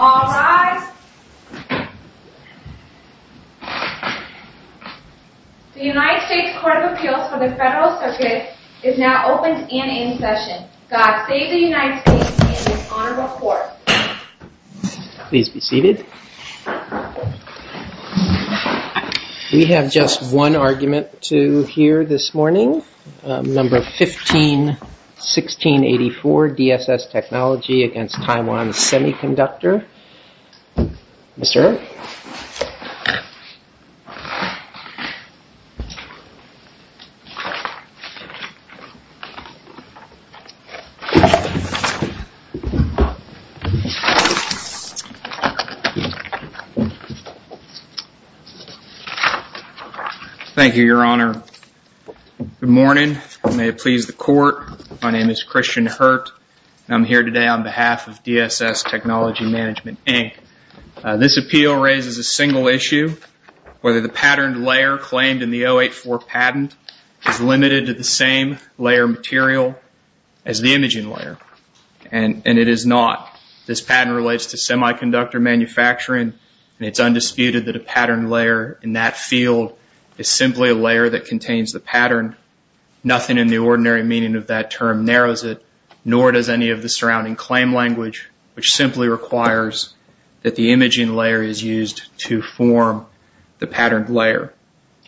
All rise. The United States Court of Appeals for the Federal Circuit is now open and in session. God save the United States and its honorable court. Please be seated. We have just one argument to hear this morning. Number 151684, DSS Technology against Taiwan Semiconductor. Mr. Hurt. Thank you, Your Honor. Good morning. May it please the court, my name is Christian Hurt and I'm here today on behalf of DSS Technology Management Inc. This appeal raises a single issue, whether the patterned layer claimed in the 084 patent is limited to the same layer material as the imaging layer. And it is not. This patent relates to semiconductor manufacturing and it's undisputed that a patterned layer in that field is simply a layer that contains the pattern. Nothing in the ordinary meaning of that term narrows it, nor does any of the surrounding claim language, which simply requires that the imaging layer is used to form the patterned layer.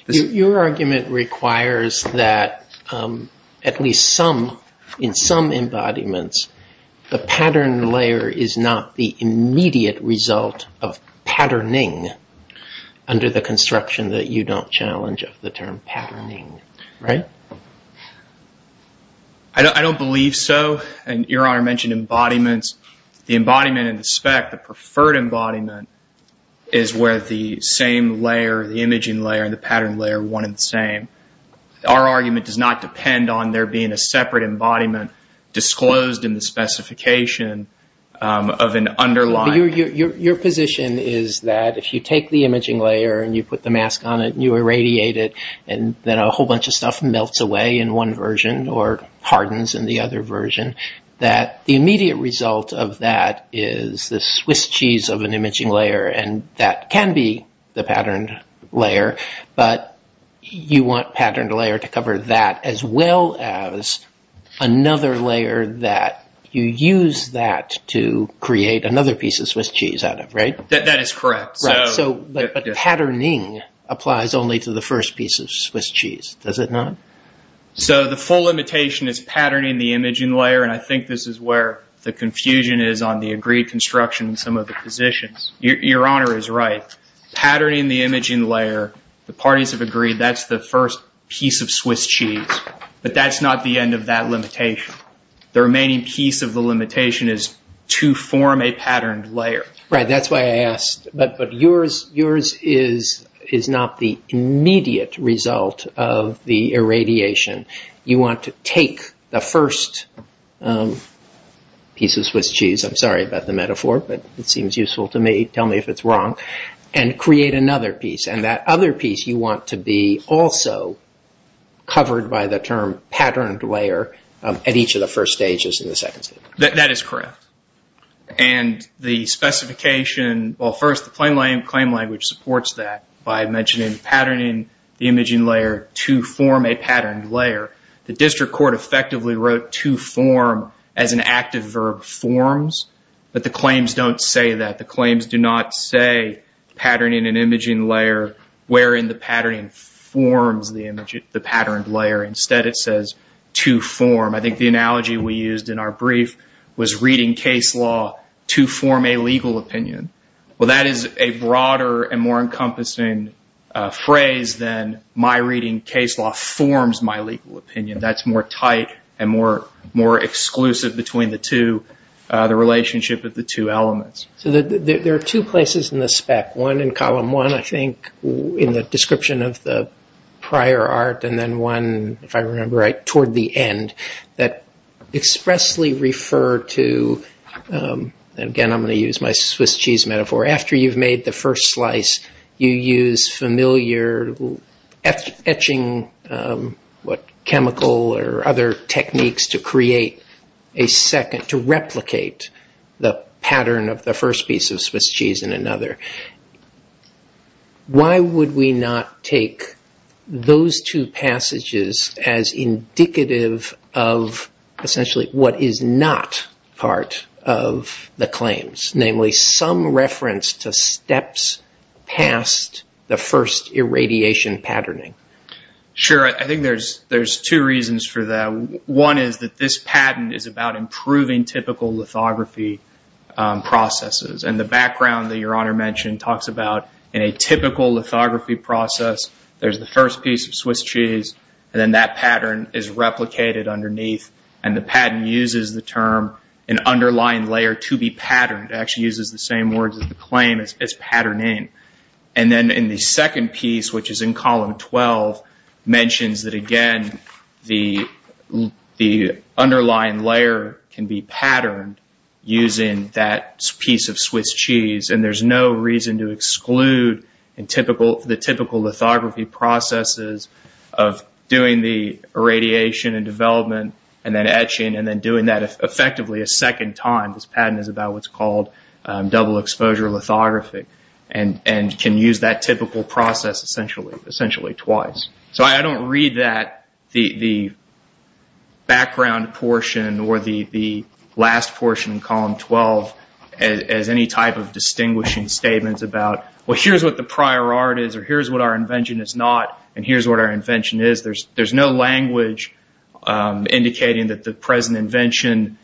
Your argument requires that at least some, in some embodiments, the patterned layer is not the immediate result of patterning under the construction that you don't challenge of the term patterning, right? I don't believe so. And Your Honor mentioned embodiments. The embodiment in the spec, the preferred embodiment, is where the same layer, the imaging layer and the patterned layer are one and the same. Our argument does not depend on there being a separate embodiment disclosed in the specification of an underlying... Your position is that if you take the imaging layer and you put the mask on it and you irradiate it, and then a whole bunch of stuff melts away in one version or hardens in the other version, that the immediate result of that is the Swiss cheese of an imaging layer and that can be the patterned layer, but you want patterned layer to cover that as well as another layer that you use that to create another piece of Swiss cheese out of, right? That is correct. But patterning applies only to the first piece of Swiss cheese, does it not? So the full limitation is patterning the imaging layer, and I think this is where the confusion is on the agreed construction in some of the positions. Your Honor is right. Patterning the imaging layer, the parties have agreed that's the first piece of Swiss cheese, but that's not the end of that limitation. The remaining piece of the limitation is to form a patterned layer. Right, that's why I asked, but yours is not the immediate result of the irradiation. You want to take the first piece of Swiss cheese, I'm sorry about the metaphor, but it seems useful to me, tell me if it's wrong, and create another piece, and that other piece you want to be also covered by the term patterned layer at each of the first stages and the second stage. That is correct, and the specification, well first the claim language supports that by mentioning patterning the imaging layer to form a patterned layer. The district court effectively wrote to form as an active verb forms, but the claims don't say that. The claims do not say patterning an imaging layer wherein the patterning forms the patterned layer. Instead it says to form. I think the analogy we used in our brief was reading case law to form a legal opinion. Well that is a broader and more encompassing phrase than my reading case law forms my legal opinion. That's more tight and more exclusive between the two, the relationship of the two elements. There are two places in the spec, one in column one I think in the description of the prior art and then one if I remember right toward the end that expressly refer to, and again I'm going to use my Swiss cheese metaphor, after you've made the first slice you use familiar etching, what chemical or other techniques to create a second, to replicate the pattern of the first piece of Swiss cheese in another. Why would we not take those two passages as indicative of essentially what is not part of the claims, namely some reference to steps past the first irradiation patterning. Sure, I think there's two reasons for that. One is that this patent is about improving typical lithography processes. The background that your honor mentioned talks about in a typical lithography process, there's the first piece of Swiss cheese, and then that pattern is replicated underneath and the patent uses the term an underlying layer to be patterned. It actually uses the same words as the claim as patterning. Then in the second piece, which is in column 12, mentions that again the underlying layer can be patterned using that piece of Swiss cheese. There's no reason to exclude the typical lithography processes of doing the irradiation and development and then etching and then doing that effectively a second time. This patent is about what's called double exposure lithography and can use that typical process essentially twice. I don't read the background portion or the last portion in column 12 as any type of distinguishing statements about, well, here's what the prior art is or here's what our invention is not and here's what our invention is. There's no language indicating that the present invention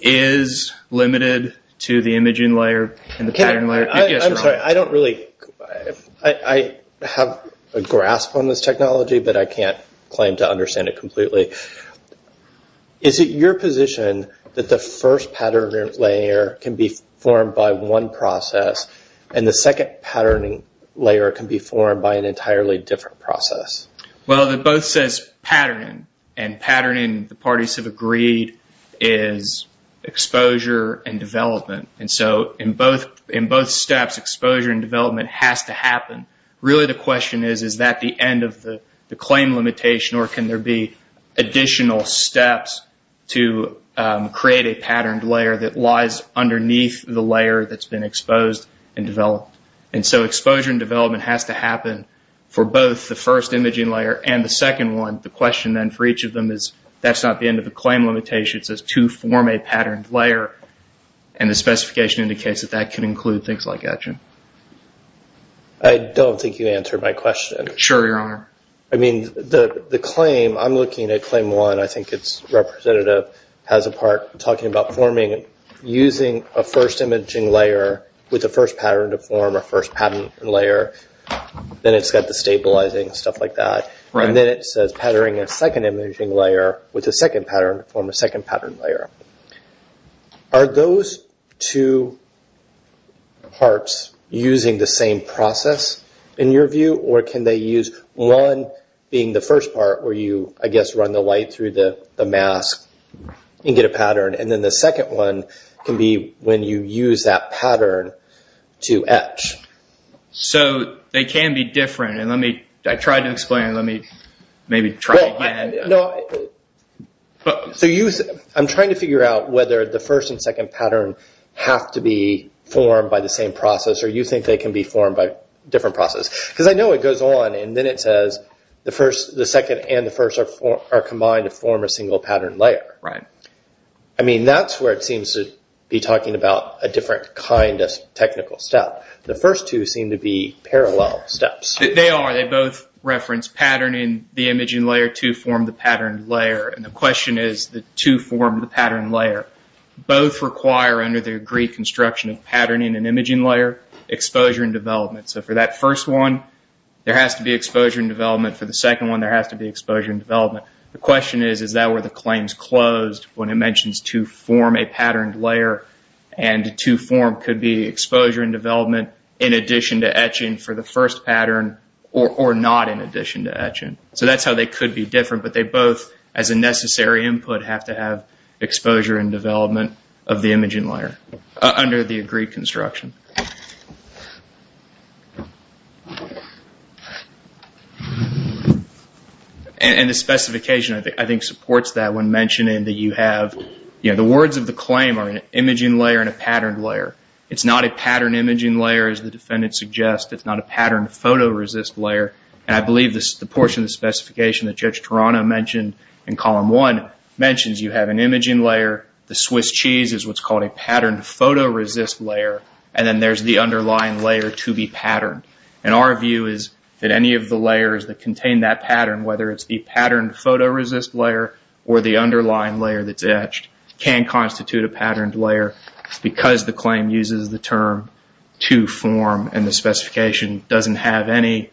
is limited to the imaging layer and the pattern layer. I'm sorry, I have a grasp on this technology, but I can't claim to understand it completely. Is it your position that the first pattern layer can be formed by one process and the second patterning layer can be formed by an entirely different process? Well, it both says patterning and patterning, the parties have agreed, is exposure and development. In both steps, exposure and development has to happen. Really the question is, is that the end of the claim limitation or can there be additional steps to create a patterned layer that lies underneath the layer that's been exposed and developed? And so exposure and development has to happen for both the first imaging layer and the second one. The question then for each of them is, that's not the end of the claim limitation, it says to form a patterned layer and the specification indicates that that can include things like etching. I don't think you answered my question. Sure, Your Honor. I mean, the claim, I'm looking at claim one. I think its representative has a part talking about forming using a first imaging layer with the first pattern to form a first patterned layer, then it's got the stabilizing and stuff like that. And then it says patterning a second imaging layer with a second pattern to form a second patterned layer. Are those two parts using the same process in your view or can they use one being the first part where you, I guess, run the light through the mask and get a pattern and then the second one can be when you use that pattern to etch. So they can be different. I tried to explain it. Let me maybe try again. I'm trying to figure out whether the first and second pattern have to be formed by the same process or you think they can be formed by a different process. Because I know it goes on and then it says the second and the first are combined to form a single patterned layer. That's where it seems to be talking about a different kind of technical step. The first two seem to be parallel steps. They are. They both reference patterning the imaging layer to form the patterned layer. And the question is to form the patterned layer. Both require, under the agreed construction of patterning and imaging layer, exposure and development. So for that first one, there has to be exposure and development. For the second one, there has to be exposure and development. The question is, is that where the claim is closed when it mentions to form a patterned layer and to form could be exposure and development in addition to etching for the first pattern or not in addition to etching. So that's how they could be different. But they both, as a necessary input, have to have exposure and development of the imaging layer under the agreed construction. And the specification, I think, supports that when mentioning that you have, you know, the words of the claim are an imaging layer and a patterned layer. It's not a patterned imaging layer, as the defendant suggests. It's not a patterned photoresist layer. And I believe the portion of the specification that Judge Toronto mentioned in Column 1 mentions you have an imaging layer. The Swiss cheese is what's called a patterned photoresist layer. And then there's the underlying layer to be patterned. And our view is that any of the layers that contain that pattern, whether it's the patterned photoresist layer or the underlying layer that's etched, can constitute a patterned layer because the claim uses the term to form and the specification doesn't have any.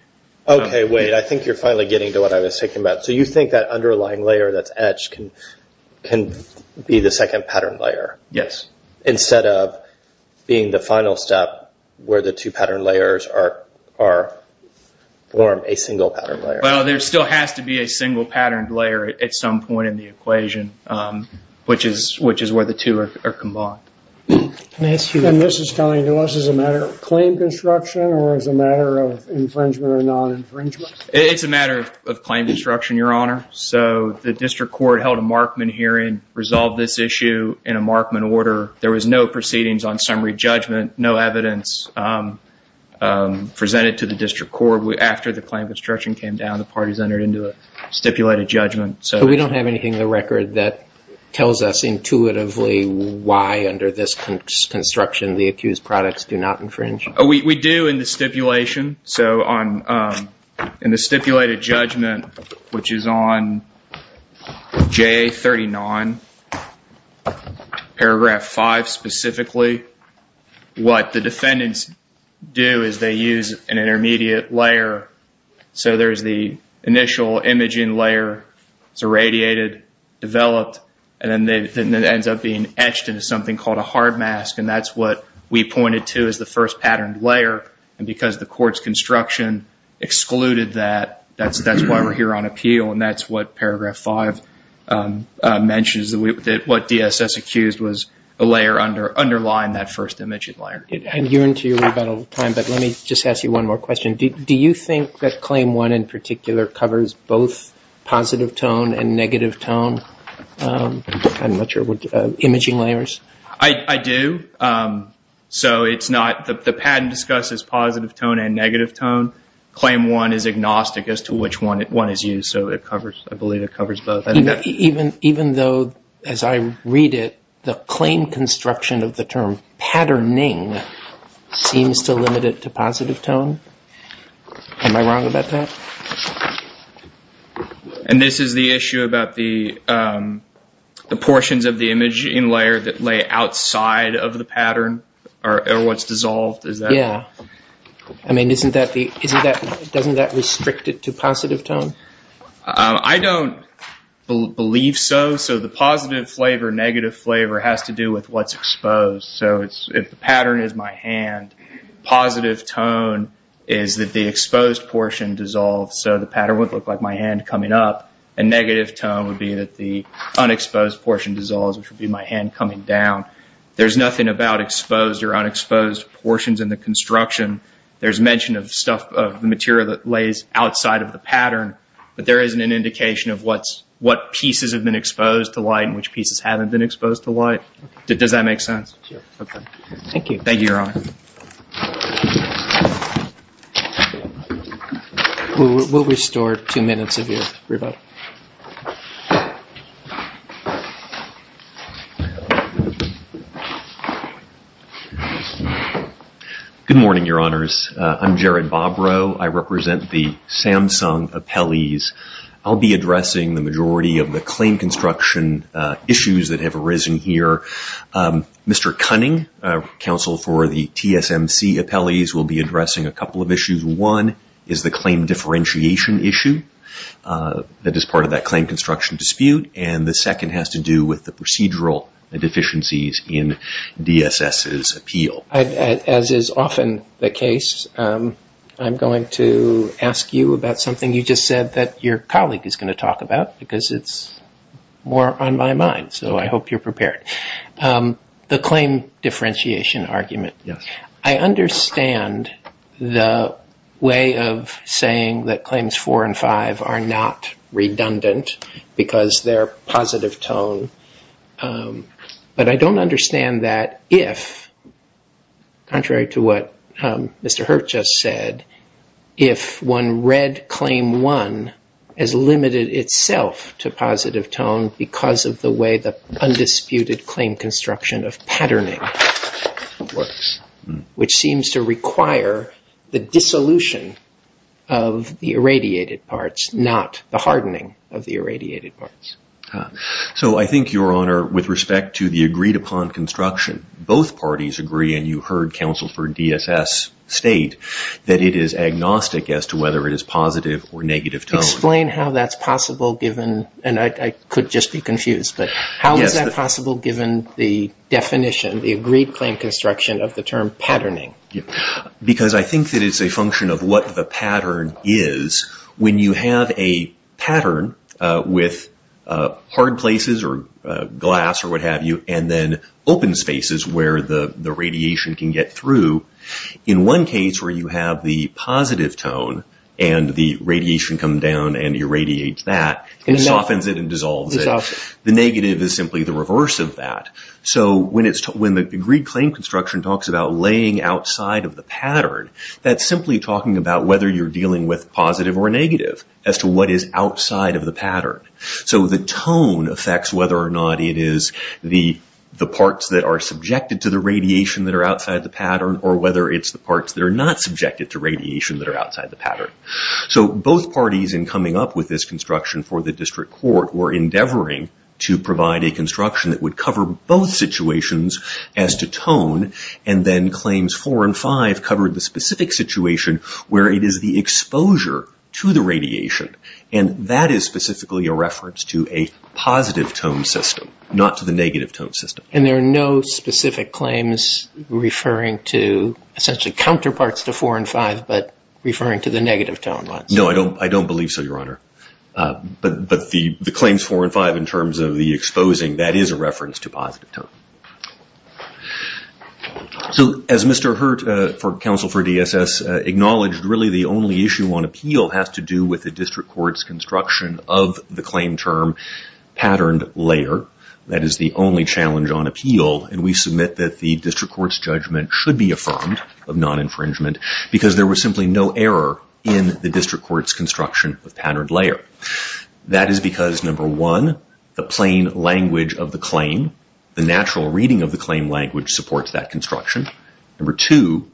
Okay. Wade, I think you're finally getting to what I was thinking about. So you think that underlying layer that's etched can be the second patterned layer. Yes. Instead of being the final step where the two patterned layers form a single patterned layer. Well, there still has to be a single patterned layer at some point in the equation, which is where the two are combined. And this is coming to us as a matter of claim construction or as a matter of infringement or non-infringement? It's a matter of claim construction, Your Honor. So the district court held a Markman hearing, resolved this issue in a Markman order. There was no proceedings on summary judgment, no evidence presented to the district court. After the claim construction came down, the parties entered into a stipulated judgment. So we don't have anything in the record that tells us intuitively why under this construction the accused products do not infringe? We do in the stipulation. So in the stipulated judgment, which is on JA39, paragraph 5 specifically, what the defendants do is they use an intermediate layer. So there's the initial imaging layer, it's irradiated, developed, and then it ends up being etched into something called a hard mask. And that's what we pointed to as the first patterned layer. And because the court's construction excluded that, that's why we're here on appeal. And that's what paragraph 5 mentions, what DSS accused was a layer underlying that first imaging layer. And you're into your rebuttal time, but let me just ask you one more question. Do you think that Claim 1 in particular covers both positive tone and negative tone imaging layers? I do. So the patent discusses positive tone and negative tone. Claim 1 is agnostic as to which one is used, so I believe it covers both. Even though, as I read it, the claim construction of the term patterning seems to limit it to positive tone? Am I wrong about that? And this is the issue about the portions of the imaging layer that lay outside of the pattern, or what's dissolved? Yeah. I mean, doesn't that restrict it to positive tone? I don't believe so. So the positive flavor, negative flavor has to do with what's exposed. So if the pattern is my hand, positive tone is that the exposed portion dissolves, so the pattern would look like my hand coming up, and negative tone would be that the unexposed portion dissolves, which would be my hand coming down. There's nothing about exposed or unexposed portions in the construction. There's mention of stuff, of the material that lays outside of the pattern, but there isn't an indication of what pieces have been exposed to light and which pieces haven't been exposed to light. Does that make sense? Sure. Okay. Thank you. Thank you, Your Honor. We'll restore two minutes of your rebuttal. Good morning, Your Honors. I'm Jared Bobrow. I represent the Samsung Appellees. I'll be addressing the majority of the claim construction issues that have arisen here. Mr. Cunning, counsel for the TSMC Appellees, will be addressing a couple of issues. One is the claim differentiation issue that is part of that claim construction dispute, and the second has to do with the procedural deficiencies in DSS's appeal. As is often the case, I'm going to ask you about something you just said that your colleague is going to talk about because it's more on my mind, so I hope you're prepared. The claim differentiation argument. Yes. I understand the way of saying that Claims 4 and 5 are not redundant because they're positive tone, but I don't understand that if, contrary to what Mr. Hirt just said, if one read Claim 1 as limited itself to positive tone because of the way the undisputed claim construction of patterning works, which seems to require the dissolution of the irradiated parts, not the hardening of the irradiated parts. I think, Your Honor, with respect to the agreed upon construction, both parties agree, and you heard counsel for DSS state that it is agnostic as to whether it is positive or negative tone. Explain how that's possible given, and I could just be confused, but how is that possible given the definition, the agreed claim construction of the term patterning? Because I think that it's a function of what the pattern is. When you have a pattern with hard places or glass or what have you, and then open spaces where the radiation can get through, in one case where you have the positive tone and the radiation comes down and irradiates that, softens it and dissolves it, the negative is simply the reverse of that. When the agreed claim construction talks about laying outside of the pattern, that's simply talking about whether you're dealing with positive or negative as to what is outside of the pattern. The tone affects whether or not it is the parts that are subjected to the radiation that are outside the pattern or whether it's the parts that are not subjected to radiation that are outside the pattern. Both parties in coming up with this construction for the district court were endeavoring to provide a construction that would cover both situations as to tone, and then claims four and five covered the specific situation where it is the exposure to the radiation. And that is specifically a reference to a positive tone system, not to the negative tone system. And there are no specific claims referring to essentially counterparts to four and five, but referring to the negative tone ones? No, I don't believe so, Your Honor. But the claims four and five in terms of the exposing, that is a reference to positive tone. So as Mr. Hurt for counsel for DSS acknowledged, really the only issue on appeal has to do with the district court's construction of the claim term patterned layer. That is the only challenge on appeal, and we submit that the district court's judgment should be affirmed of non-infringement because there was simply no error in the district court's construction of patterned layer. That is because number one, the plain language of the claim, the natural reading of the claim language supports that construction. Number two,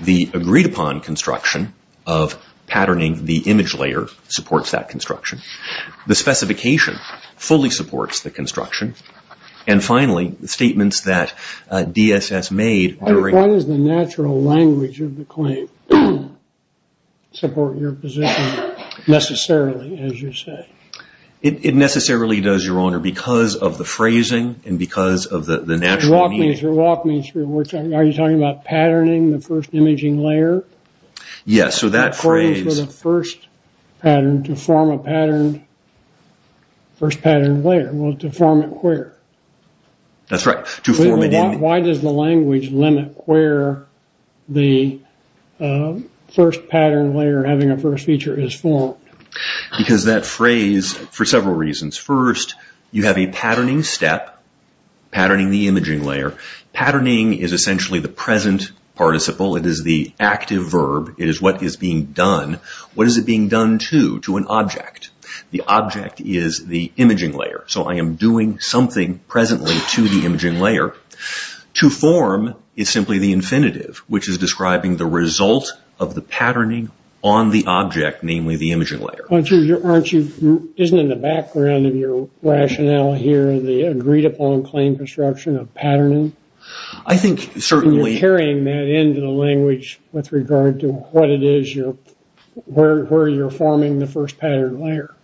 the agreed upon construction of patterning the image layer supports that construction. The specification fully supports the construction. And finally, the statements that DSS made during- support your position necessarily, as you say. It necessarily does, Your Honor, because of the phrasing and because of the natural- Walk me through, walk me through. Are you talking about patterning the first imaging layer? Yes, so that phrase- According to the first pattern, to form a pattern, first pattern layer. Well, to form it where? That's right. Why does the language limit where the first pattern layer, having a first feature, is formed? Because that phrase, for several reasons. First, you have a patterning step, patterning the imaging layer. Patterning is essentially the present participle. It is the active verb. It is what is being done. What is it being done to, to an object? The object is the imaging layer. So I am doing something presently to the imaging layer. To form is simply the infinitive, which is describing the result of the patterning on the object, namely the imaging layer. Aren't you- isn't in the background of your rationale here the agreed-upon claim construction of patterning? I think certainly- You're carrying that into the language with regard to what it is you're- where you're forming the first pattern layer.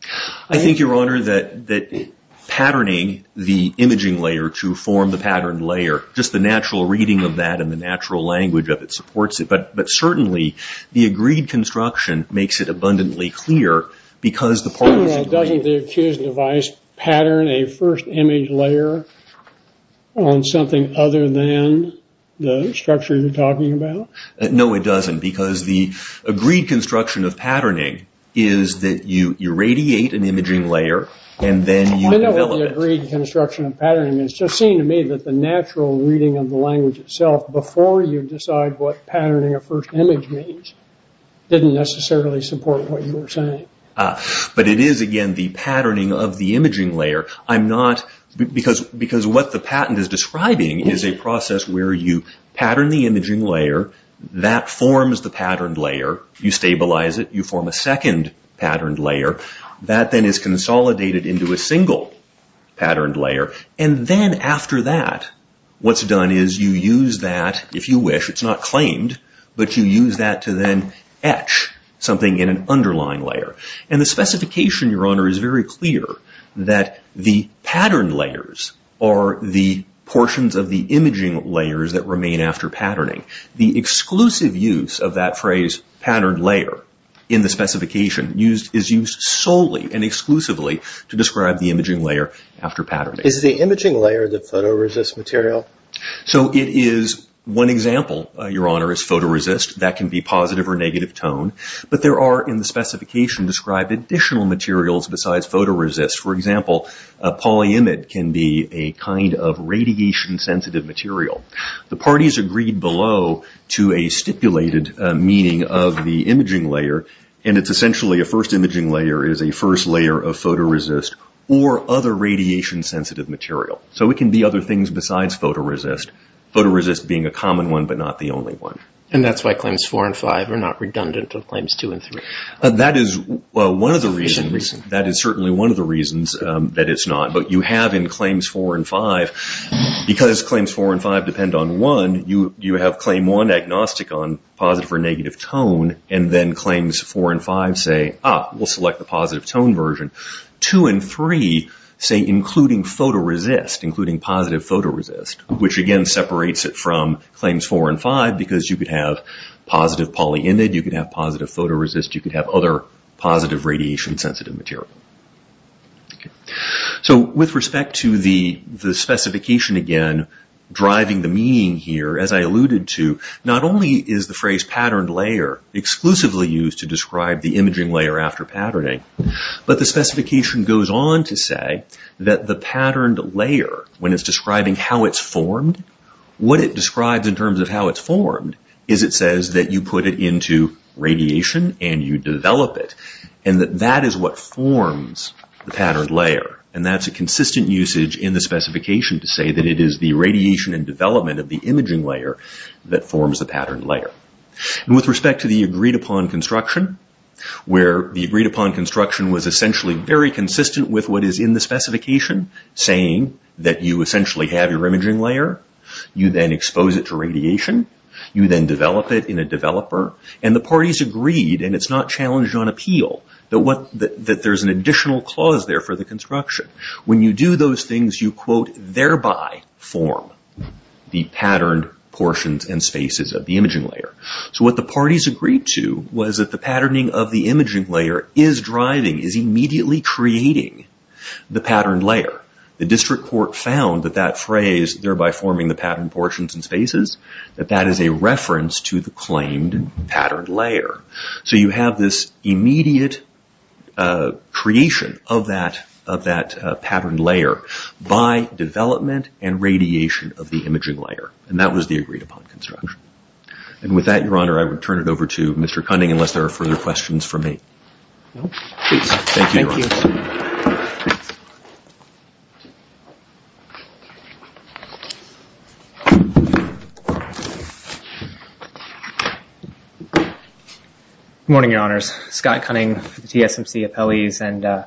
I think, Your Honor, that, that patterning the imaging layer to form the pattern layer, just the natural reading of that and the natural language of it supports it. But, but certainly the agreed construction makes it abundantly clear because the part- Doesn't the accused device pattern a first image layer on something other than the structure you're talking about? No, it doesn't because the agreed construction of patterning is that you irradiate an imaging layer and then you develop it. I know what the agreed construction of patterning is. It just seemed to me that the natural reading of the language itself, before you decide what patterning a first image means, didn't necessarily support what you were saying. But it is, again, the patterning of the imaging layer. Because what the patent is describing is a process where you pattern the imaging layer, that forms the patterned layer, you stabilize it, you form a second patterned layer, that then is consolidated into a single patterned layer, and then after that what's done is you use that, if you wish, it's not claimed, but you use that to then etch something in an underlying layer. And the specification, Your Honor, is very clear that the patterned layers are the portions of the imaging layers that remain after patterning. The exclusive use of that phrase, patterned layer, in the specification, is used solely and exclusively to describe the imaging layer after patterning. Is the imaging layer the photoresist material? So it is. One example, Your Honor, is photoresist. That can be positive or negative tone. But there are, in the specification, described additional materials besides photoresist. For example, polyimide can be a kind of radiation-sensitive material. The parties agreed below to a stipulated meaning of the imaging layer, and it's essentially a first imaging layer is a first layer of photoresist or other radiation-sensitive material. So it can be other things besides photoresist, photoresist being a common one but not the only one. And that's why Claims 4 and 5 are not redundant of Claims 2 and 3. That is one of the reasons. That is certainly one of the reasons that it's not. But you have in Claims 4 and 5, because Claims 4 and 5 depend on 1, you have Claim 1 agnostic on positive or negative tone, and then Claims 4 and 5 say, ah, we'll select the positive tone version. 2 and 3 say including photoresist, including positive photoresist, which again separates it from Claims 4 and 5 because you could have positive polyimide, you could have positive photoresist, you could have other positive radiation-sensitive material. So with respect to the specification again, driving the meaning here, as I alluded to, not only is the phrase patterned layer exclusively used to describe the imaging layer after patterning, but the specification goes on to say that the patterned layer, when it's describing how it's formed, what it describes in terms of how it's formed is it says that you put it into radiation and you develop it, and that that is what forms the patterned layer. And that's a consistent usage in the specification to say that it is the radiation and development of the imaging layer that forms the patterned layer. With respect to the agreed-upon construction, where the agreed-upon construction was essentially very consistent with what is in the specification, saying that you essentially have your imaging layer, you then expose it to radiation, you then develop it in a developer, and the parties agreed, and it's not challenged on appeal, that there's an additional clause there for the construction. When you do those things, you, quote, thereby form the patterned portions and spaces of the imaging layer. So what the parties agreed to was that the patterning of the imaging layer is driving, is immediately creating the patterned layer. The district court found that that phrase, thereby forming the patterned portions and spaces, that that is a reference to the claimed patterned layer. So you have this immediate creation of that patterned layer by development and radiation of the imaging layer. And that was the agreed-upon construction. And with that, Your Honor, I will turn it over to Mr. Cunning unless there are further questions for me. Thank you. Good morning, Your Honors. Scott Cunning, TSMC appellees, and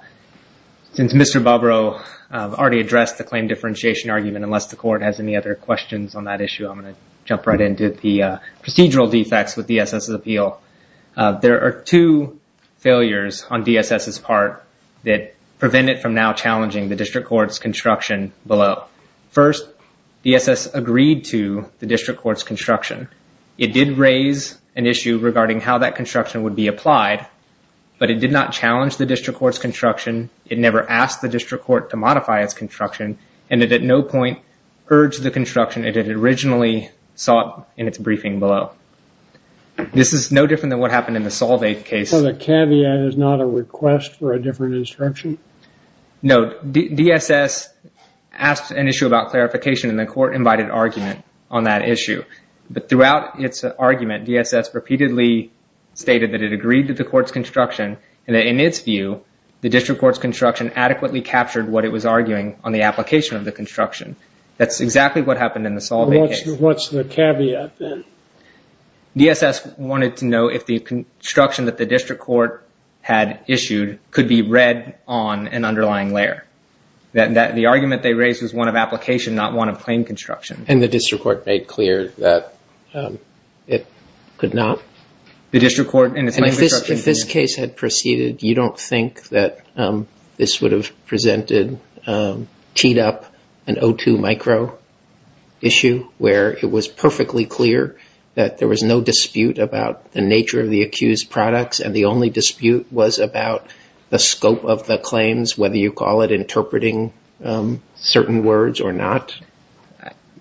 since Mr. Bobrow already addressed the claim differentiation argument, unless the court has any other questions on that issue, I'm going to jump right into the procedural defects with DSS's appeal. There are two failures on DSS's part that prevent it from now challenging the district court's construction below. First, DSS agreed to the district court's construction. It did raise an issue regarding how that construction would be applied, but it did not challenge the district court's construction. It never asked the district court to modify its construction, and it at no point urged the construction it had originally sought in its briefing below. This is no different than what happened in the Solvay case. So the caveat is not a request for a different instruction? No. DSS asked an issue about clarification, and the court invited argument on that issue. But throughout its argument, DSS repeatedly stated that it agreed to the court's construction and that in its view the district court's construction adequately captured what it was arguing on the application of the construction. That's exactly what happened in the Solvay case. What's the caveat then? DSS wanted to know if the construction that the district court had issued could be read on an underlying layer. The argument they raised was one of application, not one of plain construction. And the district court made clear that it could not. If this case had proceeded, you don't think that this would have presented, teed up an O2 micro issue where it was perfectly clear that there was no dispute about the nature of the accused products and the only dispute was about the scope of the claims, whether you call it interpreting certain words or not?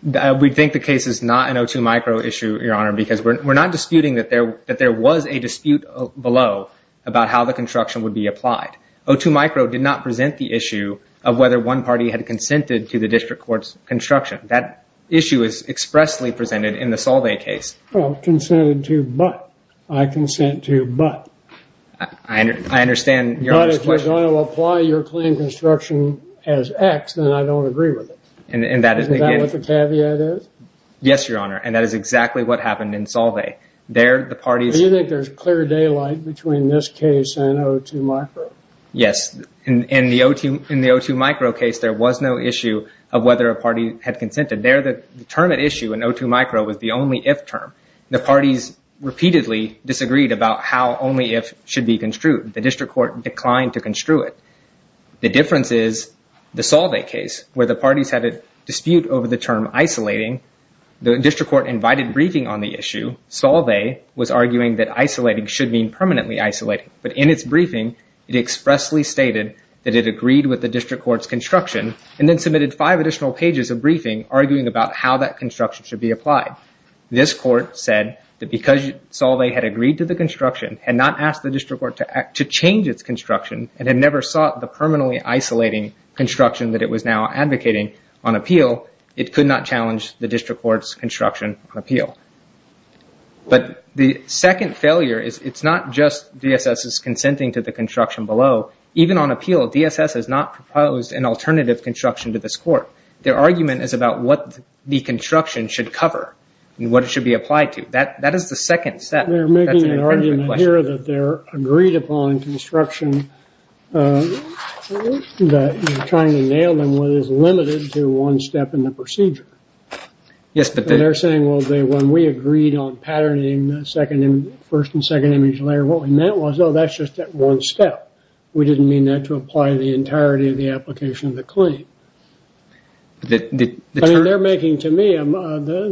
We think the case is not an O2 micro issue, Your Honor, because we're not disputing that there was a dispute below about how the construction would be applied. O2 micro did not present the issue of whether one party had consented to the district court's construction. That issue is expressly presented in the Solvay case. Consented to, but. I consent to, but. I understand Your Honor's question. But if you're going to apply your claim construction as X, then I don't agree with it. Is that what the caveat is? Yes, Your Honor, and that is exactly what happened in Solvay. Do you think there's clear daylight between this case and O2 micro? Yes. In the O2 micro case, there was no issue of whether a party had consented. The term at issue in O2 micro was the only if term. The parties repeatedly disagreed about how only if should be construed. The district court declined to construe it. The difference is the Solvay case where the parties had a dispute over the term isolating. The district court invited briefing on the issue. Solvay was arguing that isolating should mean permanently isolating. But in its briefing, it expressly stated that it agreed with the district court's construction and then submitted five additional pages of briefing arguing about how that construction should be applied. This court said that because Solvay had agreed to the construction and not asked the district court to change its construction and had never sought the permanently isolating construction that it was now advocating on appeal, it could not challenge the district court's construction on appeal. But the second failure is it's not just DSS's consenting to the construction below. Even on appeal, DSS has not proposed an alternative construction to this court. Their argument is about what the construction should cover and what it should be applied to. That is the second step. They're making an argument here that they're agreed upon construction that you're trying to nail them is limited to one step in the procedure. They're saying, well, when we agreed on patterning the first and second image layer, what we meant was, oh, that's just that one step. We didn't mean that to apply the entirety of the application of the claim. I mean, they're making to me,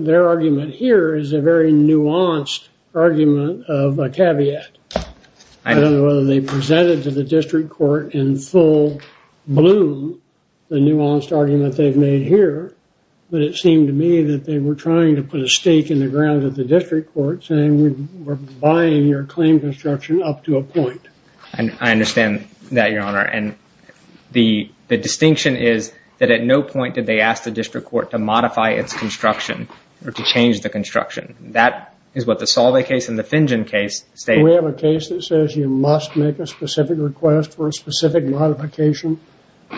their argument here is a very nuanced argument of a caveat. I don't know whether they presented to the district court in full bloom the nuanced argument they've made here, but it seemed to me that they were trying to put a stake in the ground of the district court saying we're buying your claim construction up to a point. I understand that, Your Honor. The distinction is that at no point did they ask the district court to modify its construction or to change the construction. That is what the Salve case and the Fingen case state. We have a case that says you must make a specific request for a specific modification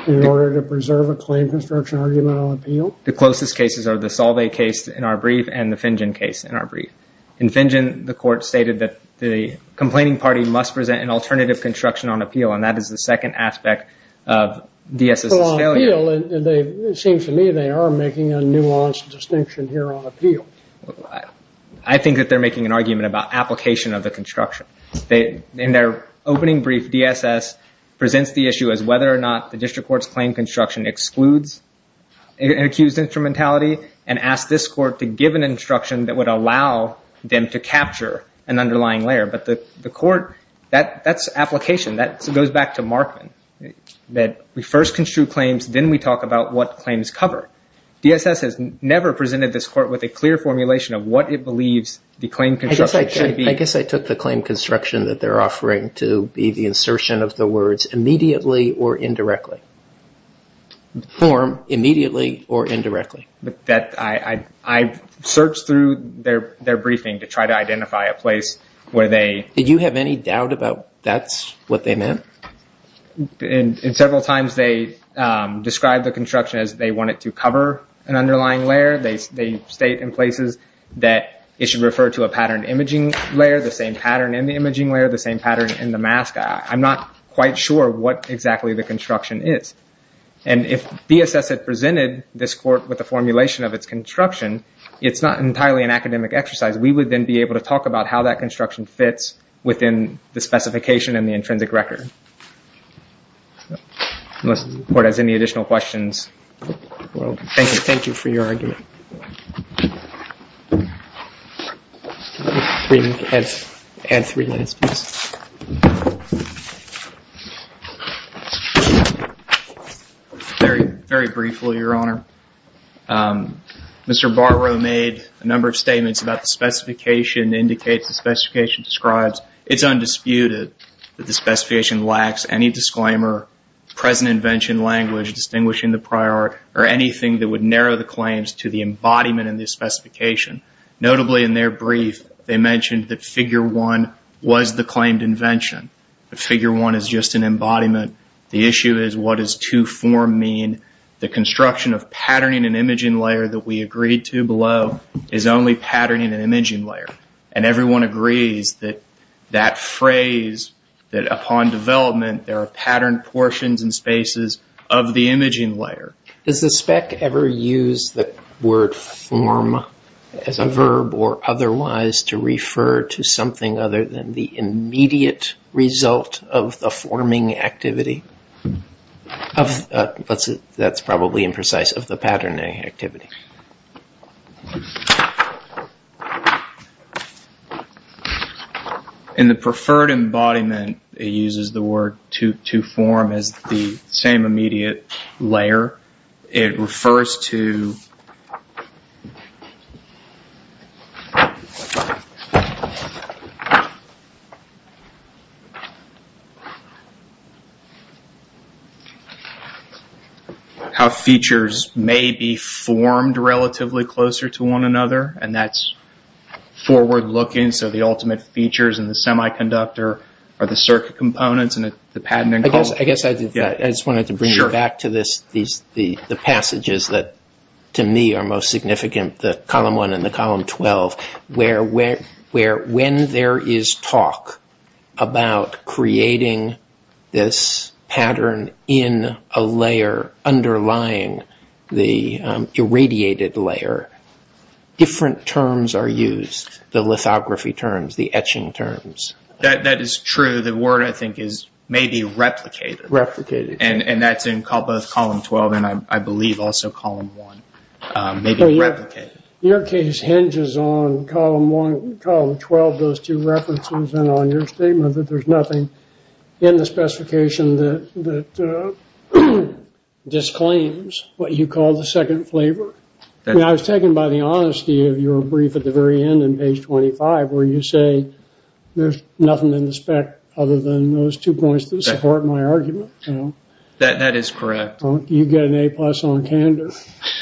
in order to preserve a claim construction argument on appeal. The closest cases are the Salve case in our brief and the Fingen case in our brief. In Fingen, the court stated that the complaining party must present an alternative construction on appeal and that is the second aspect of DSS's failure. It seems to me they are making a nuanced distinction here on appeal. I think that they're making an argument about application of the construction. In their opening brief, DSS presents the issue as whether or not the district court's claim construction excludes an accused instrumentality and asks this court to give an instruction that would allow them to capture an underlying layer. But the court, that's application. That goes back to Markman, that we first construe claims, then we talk about what claims cover. DSS has never presented this court with a clear formulation of what it believes the claim construction should be. I guess I took the claim construction that they're offering to be the insertion of the words immediately or indirectly, form immediately or indirectly. I searched through their briefing to try to identify a place where they... Did you have any doubt about that's what they meant? Several times they described the construction as they wanted to cover an underlying layer. They state in places that it should refer to a pattern imaging layer, the same pattern in the imaging layer, the same pattern in the mask. I'm not quite sure what exactly the construction is. And if DSS had presented this court with a formulation of its construction, it's not entirely an academic exercise. We would then be able to talk about how that construction fits within the specification and the intrinsic record. Unless the court has any additional questions. Thank you for your argument. Can I add three minutes, please? Very briefly, Your Honor. Mr. Barrow made a number of statements about the specification, indicates the specification describes it's undisputed that the specification lacks any disclaimer, present invention, language, distinguishing the prior, or anything that would narrow the claims to the embodiment in the specification. Notably in their brief, they mentioned that figure one was the claimed invention. The figure one is just an embodiment. The issue is what does two-form mean? The construction of patterning and imaging layer that we agreed to below is only patterning and imaging layer. And everyone agrees that that phrase, that upon development, there are patterned portions and spaces of the imaging layer. Does the spec ever use the word form as a verb or otherwise to refer to something other than the immediate result of the forming activity? That's probably imprecise, of the patterning activity. In the preferred embodiment, it uses the word two-form as the same immediate layer. It refers to how features may be formed relatively closer to one another. And that's forward-looking, so the ultimate features in the semiconductor are the circuit components and the patterning components. I just wanted to bring you back to the passages that to me are most significant, the column one and the column 12, where when there is talk about creating this pattern in a layer underlying the irradiated layer, different terms are used, the lithography terms, the etching terms. That is true. The word, I think, is maybe replicated. Replicated. And that's in both column 12 and I believe also column one, maybe replicated. Your case hinges on column 12, those two references, and on your statement that there's nothing in the specification that disclaims what you call the second flavor. I was taken by the honesty of your brief at the very end on page 25, where you say there's nothing in the spec other than those two points that support my argument. That is correct. You get an A-plus on candor.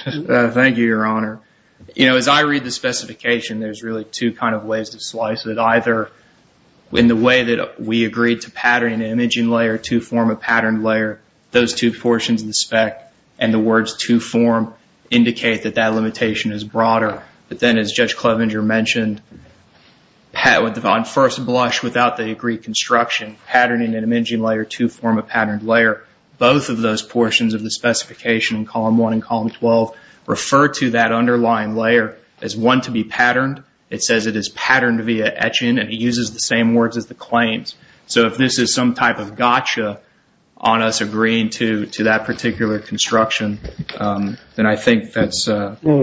Thank you, Your Honor. As I read the specification, there's really two kind of ways to slice it. In the way that we agreed to pattern an imaging layer to form a pattern layer, those two portions of the spec and the words to form indicate that that limitation is broader. But then, as Judge Clevenger mentioned, on first blush, without the agreed construction, patterning and imaging layer to form a pattern layer, both of those portions of the specification in column one and column 12 refer to that underlying layer as one to be patterned. It says it is patterned via etching, and it uses the same words as the claims. If this is some type of gotcha on us agreeing to that particular construction, then I think that's what we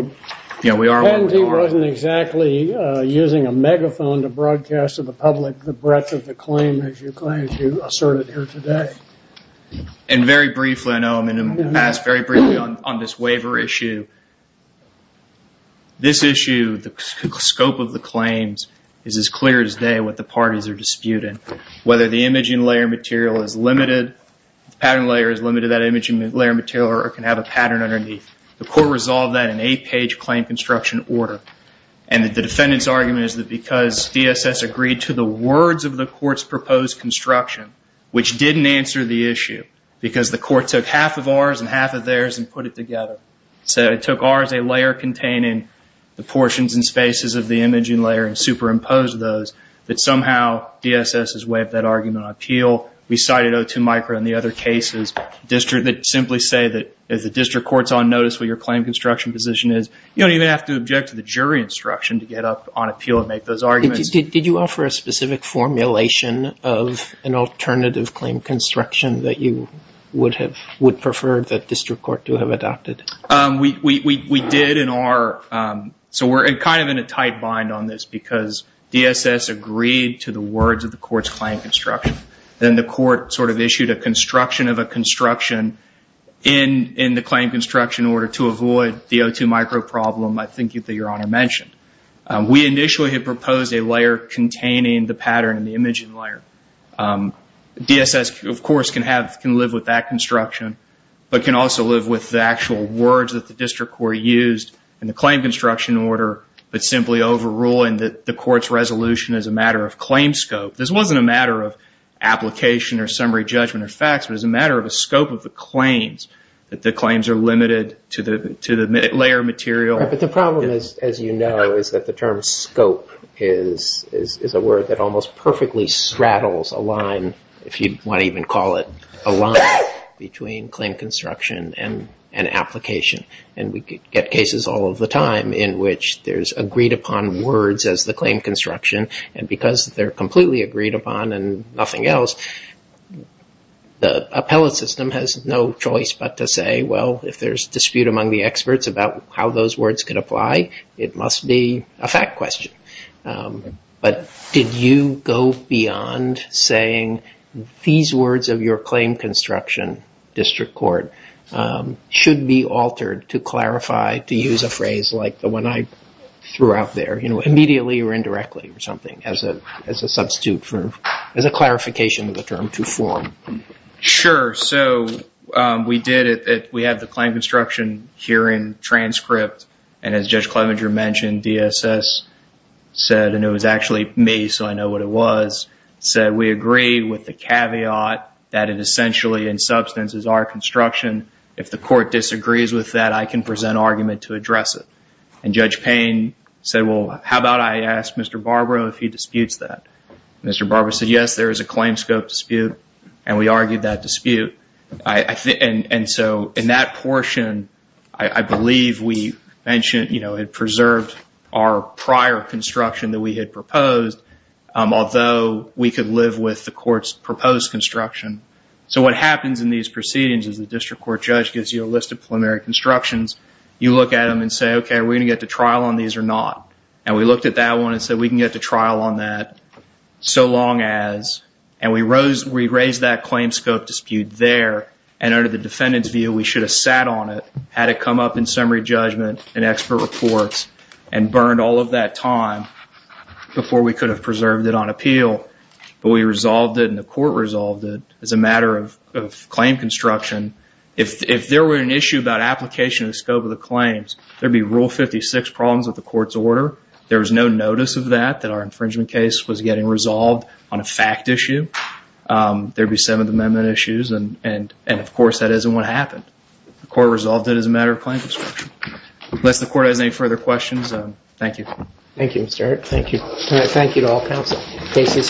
are working on. Ken wasn't exactly using a megaphone to broadcast to the public the breadth of the claim as you asserted here today. Very briefly, I know I'm going to pass very briefly on this waiver issue. This issue, the scope of the claims is as clear as day what the parties are disputing. Whether the imaging layer material is limited, the pattern layer is limited, that imaging layer material can have a pattern underneath. The court resolved that in eight-page claim construction order. The defendant's argument is that because DSS agreed to the words of the court's proposed construction, which didn't answer the issue, because the court took half of ours and half of theirs and put it together, so it took ours, a layer containing the portions and spaces of the imaging layer and superimposed those, that somehow DSS has waived that argument on appeal. We cited O2 micro and the other cases that simply say that if the district court is on notice where your claim construction position is, you don't even have to object to the jury instruction to get up on appeal and make those arguments. Did you offer a specific formulation of an alternative claim construction that you would prefer the district court to have adopted? We did. We're kind of in a tight bind on this because DSS agreed to the words of the court's claim construction. Then the court sort of issued a construction of a construction in the claim construction order to avoid the O2 micro problem, I think, that Your Honor mentioned. We initially had proposed a layer containing the pattern and the imaging layer. DSS, of course, can live with that construction but can also live with the actual words that the district court used in the claim construction order but simply overruling the court's resolution as a matter of claim scope. This wasn't a matter of application or summary judgment or facts. It was a matter of the scope of the claims, that the claims are limited to the layer material. But the problem is, as you know, is that the term scope is a word that almost perfectly straddles a line, if you want to even call it a line, between claim construction and application. We get cases all of the time in which there's agreed upon words as the claim construction and because they're completely agreed upon and nothing else, the appellate system has no choice but to say, well, if there's dispute among the experts about how those words could apply, it must be a fact question. But did you go beyond saying these words of your claim construction district court should be altered to clarify, to use a phrase like the one I threw out there, you know, immediately or indirectly or something as a substitute for, as a clarification of the term to form? Sure. So we did it. We had the claim construction hearing transcript and as Judge Clevenger mentioned, DSS said, and it was actually me so I know what it was, said we agree with the caveat that it essentially in substance is our construction. If the court disagrees with that, I can present argument to address it. And Judge Payne said, well, how about I ask Mr. Barbaro if he disputes that? Mr. Barbaro said, yes, there is a claim scope dispute. And we argued that dispute. And so in that portion, I believe we mentioned, you know, it preserved our prior construction that we had proposed, although we could live with the court's proposed construction. So what happens in these proceedings is the district court judge gives you a list of preliminary constructions. You look at them and say, OK, we're going to get to trial on these or not. And we looked at that one and said we can get to trial on that so long as, and we raised that claim scope dispute there. And under the defendant's view, we should have sat on it had it come up in summary judgment and expert reports and burned all of that time before we could have preserved it on appeal. But we resolved it and the court resolved it as a matter of claim construction. If there were an issue about application and scope of the claims, there would be Rule 56 problems with the court's order. There was no notice of that, that our infringement case was getting resolved on a fact issue. There would be 7th Amendment issues. And of course, that isn't what happened. The court resolved it as a matter of claim construction. Unless the court has any further questions, thank you. Thank you, Mr. Hart. Thank you. Thank you to all counsel. Case is submitted.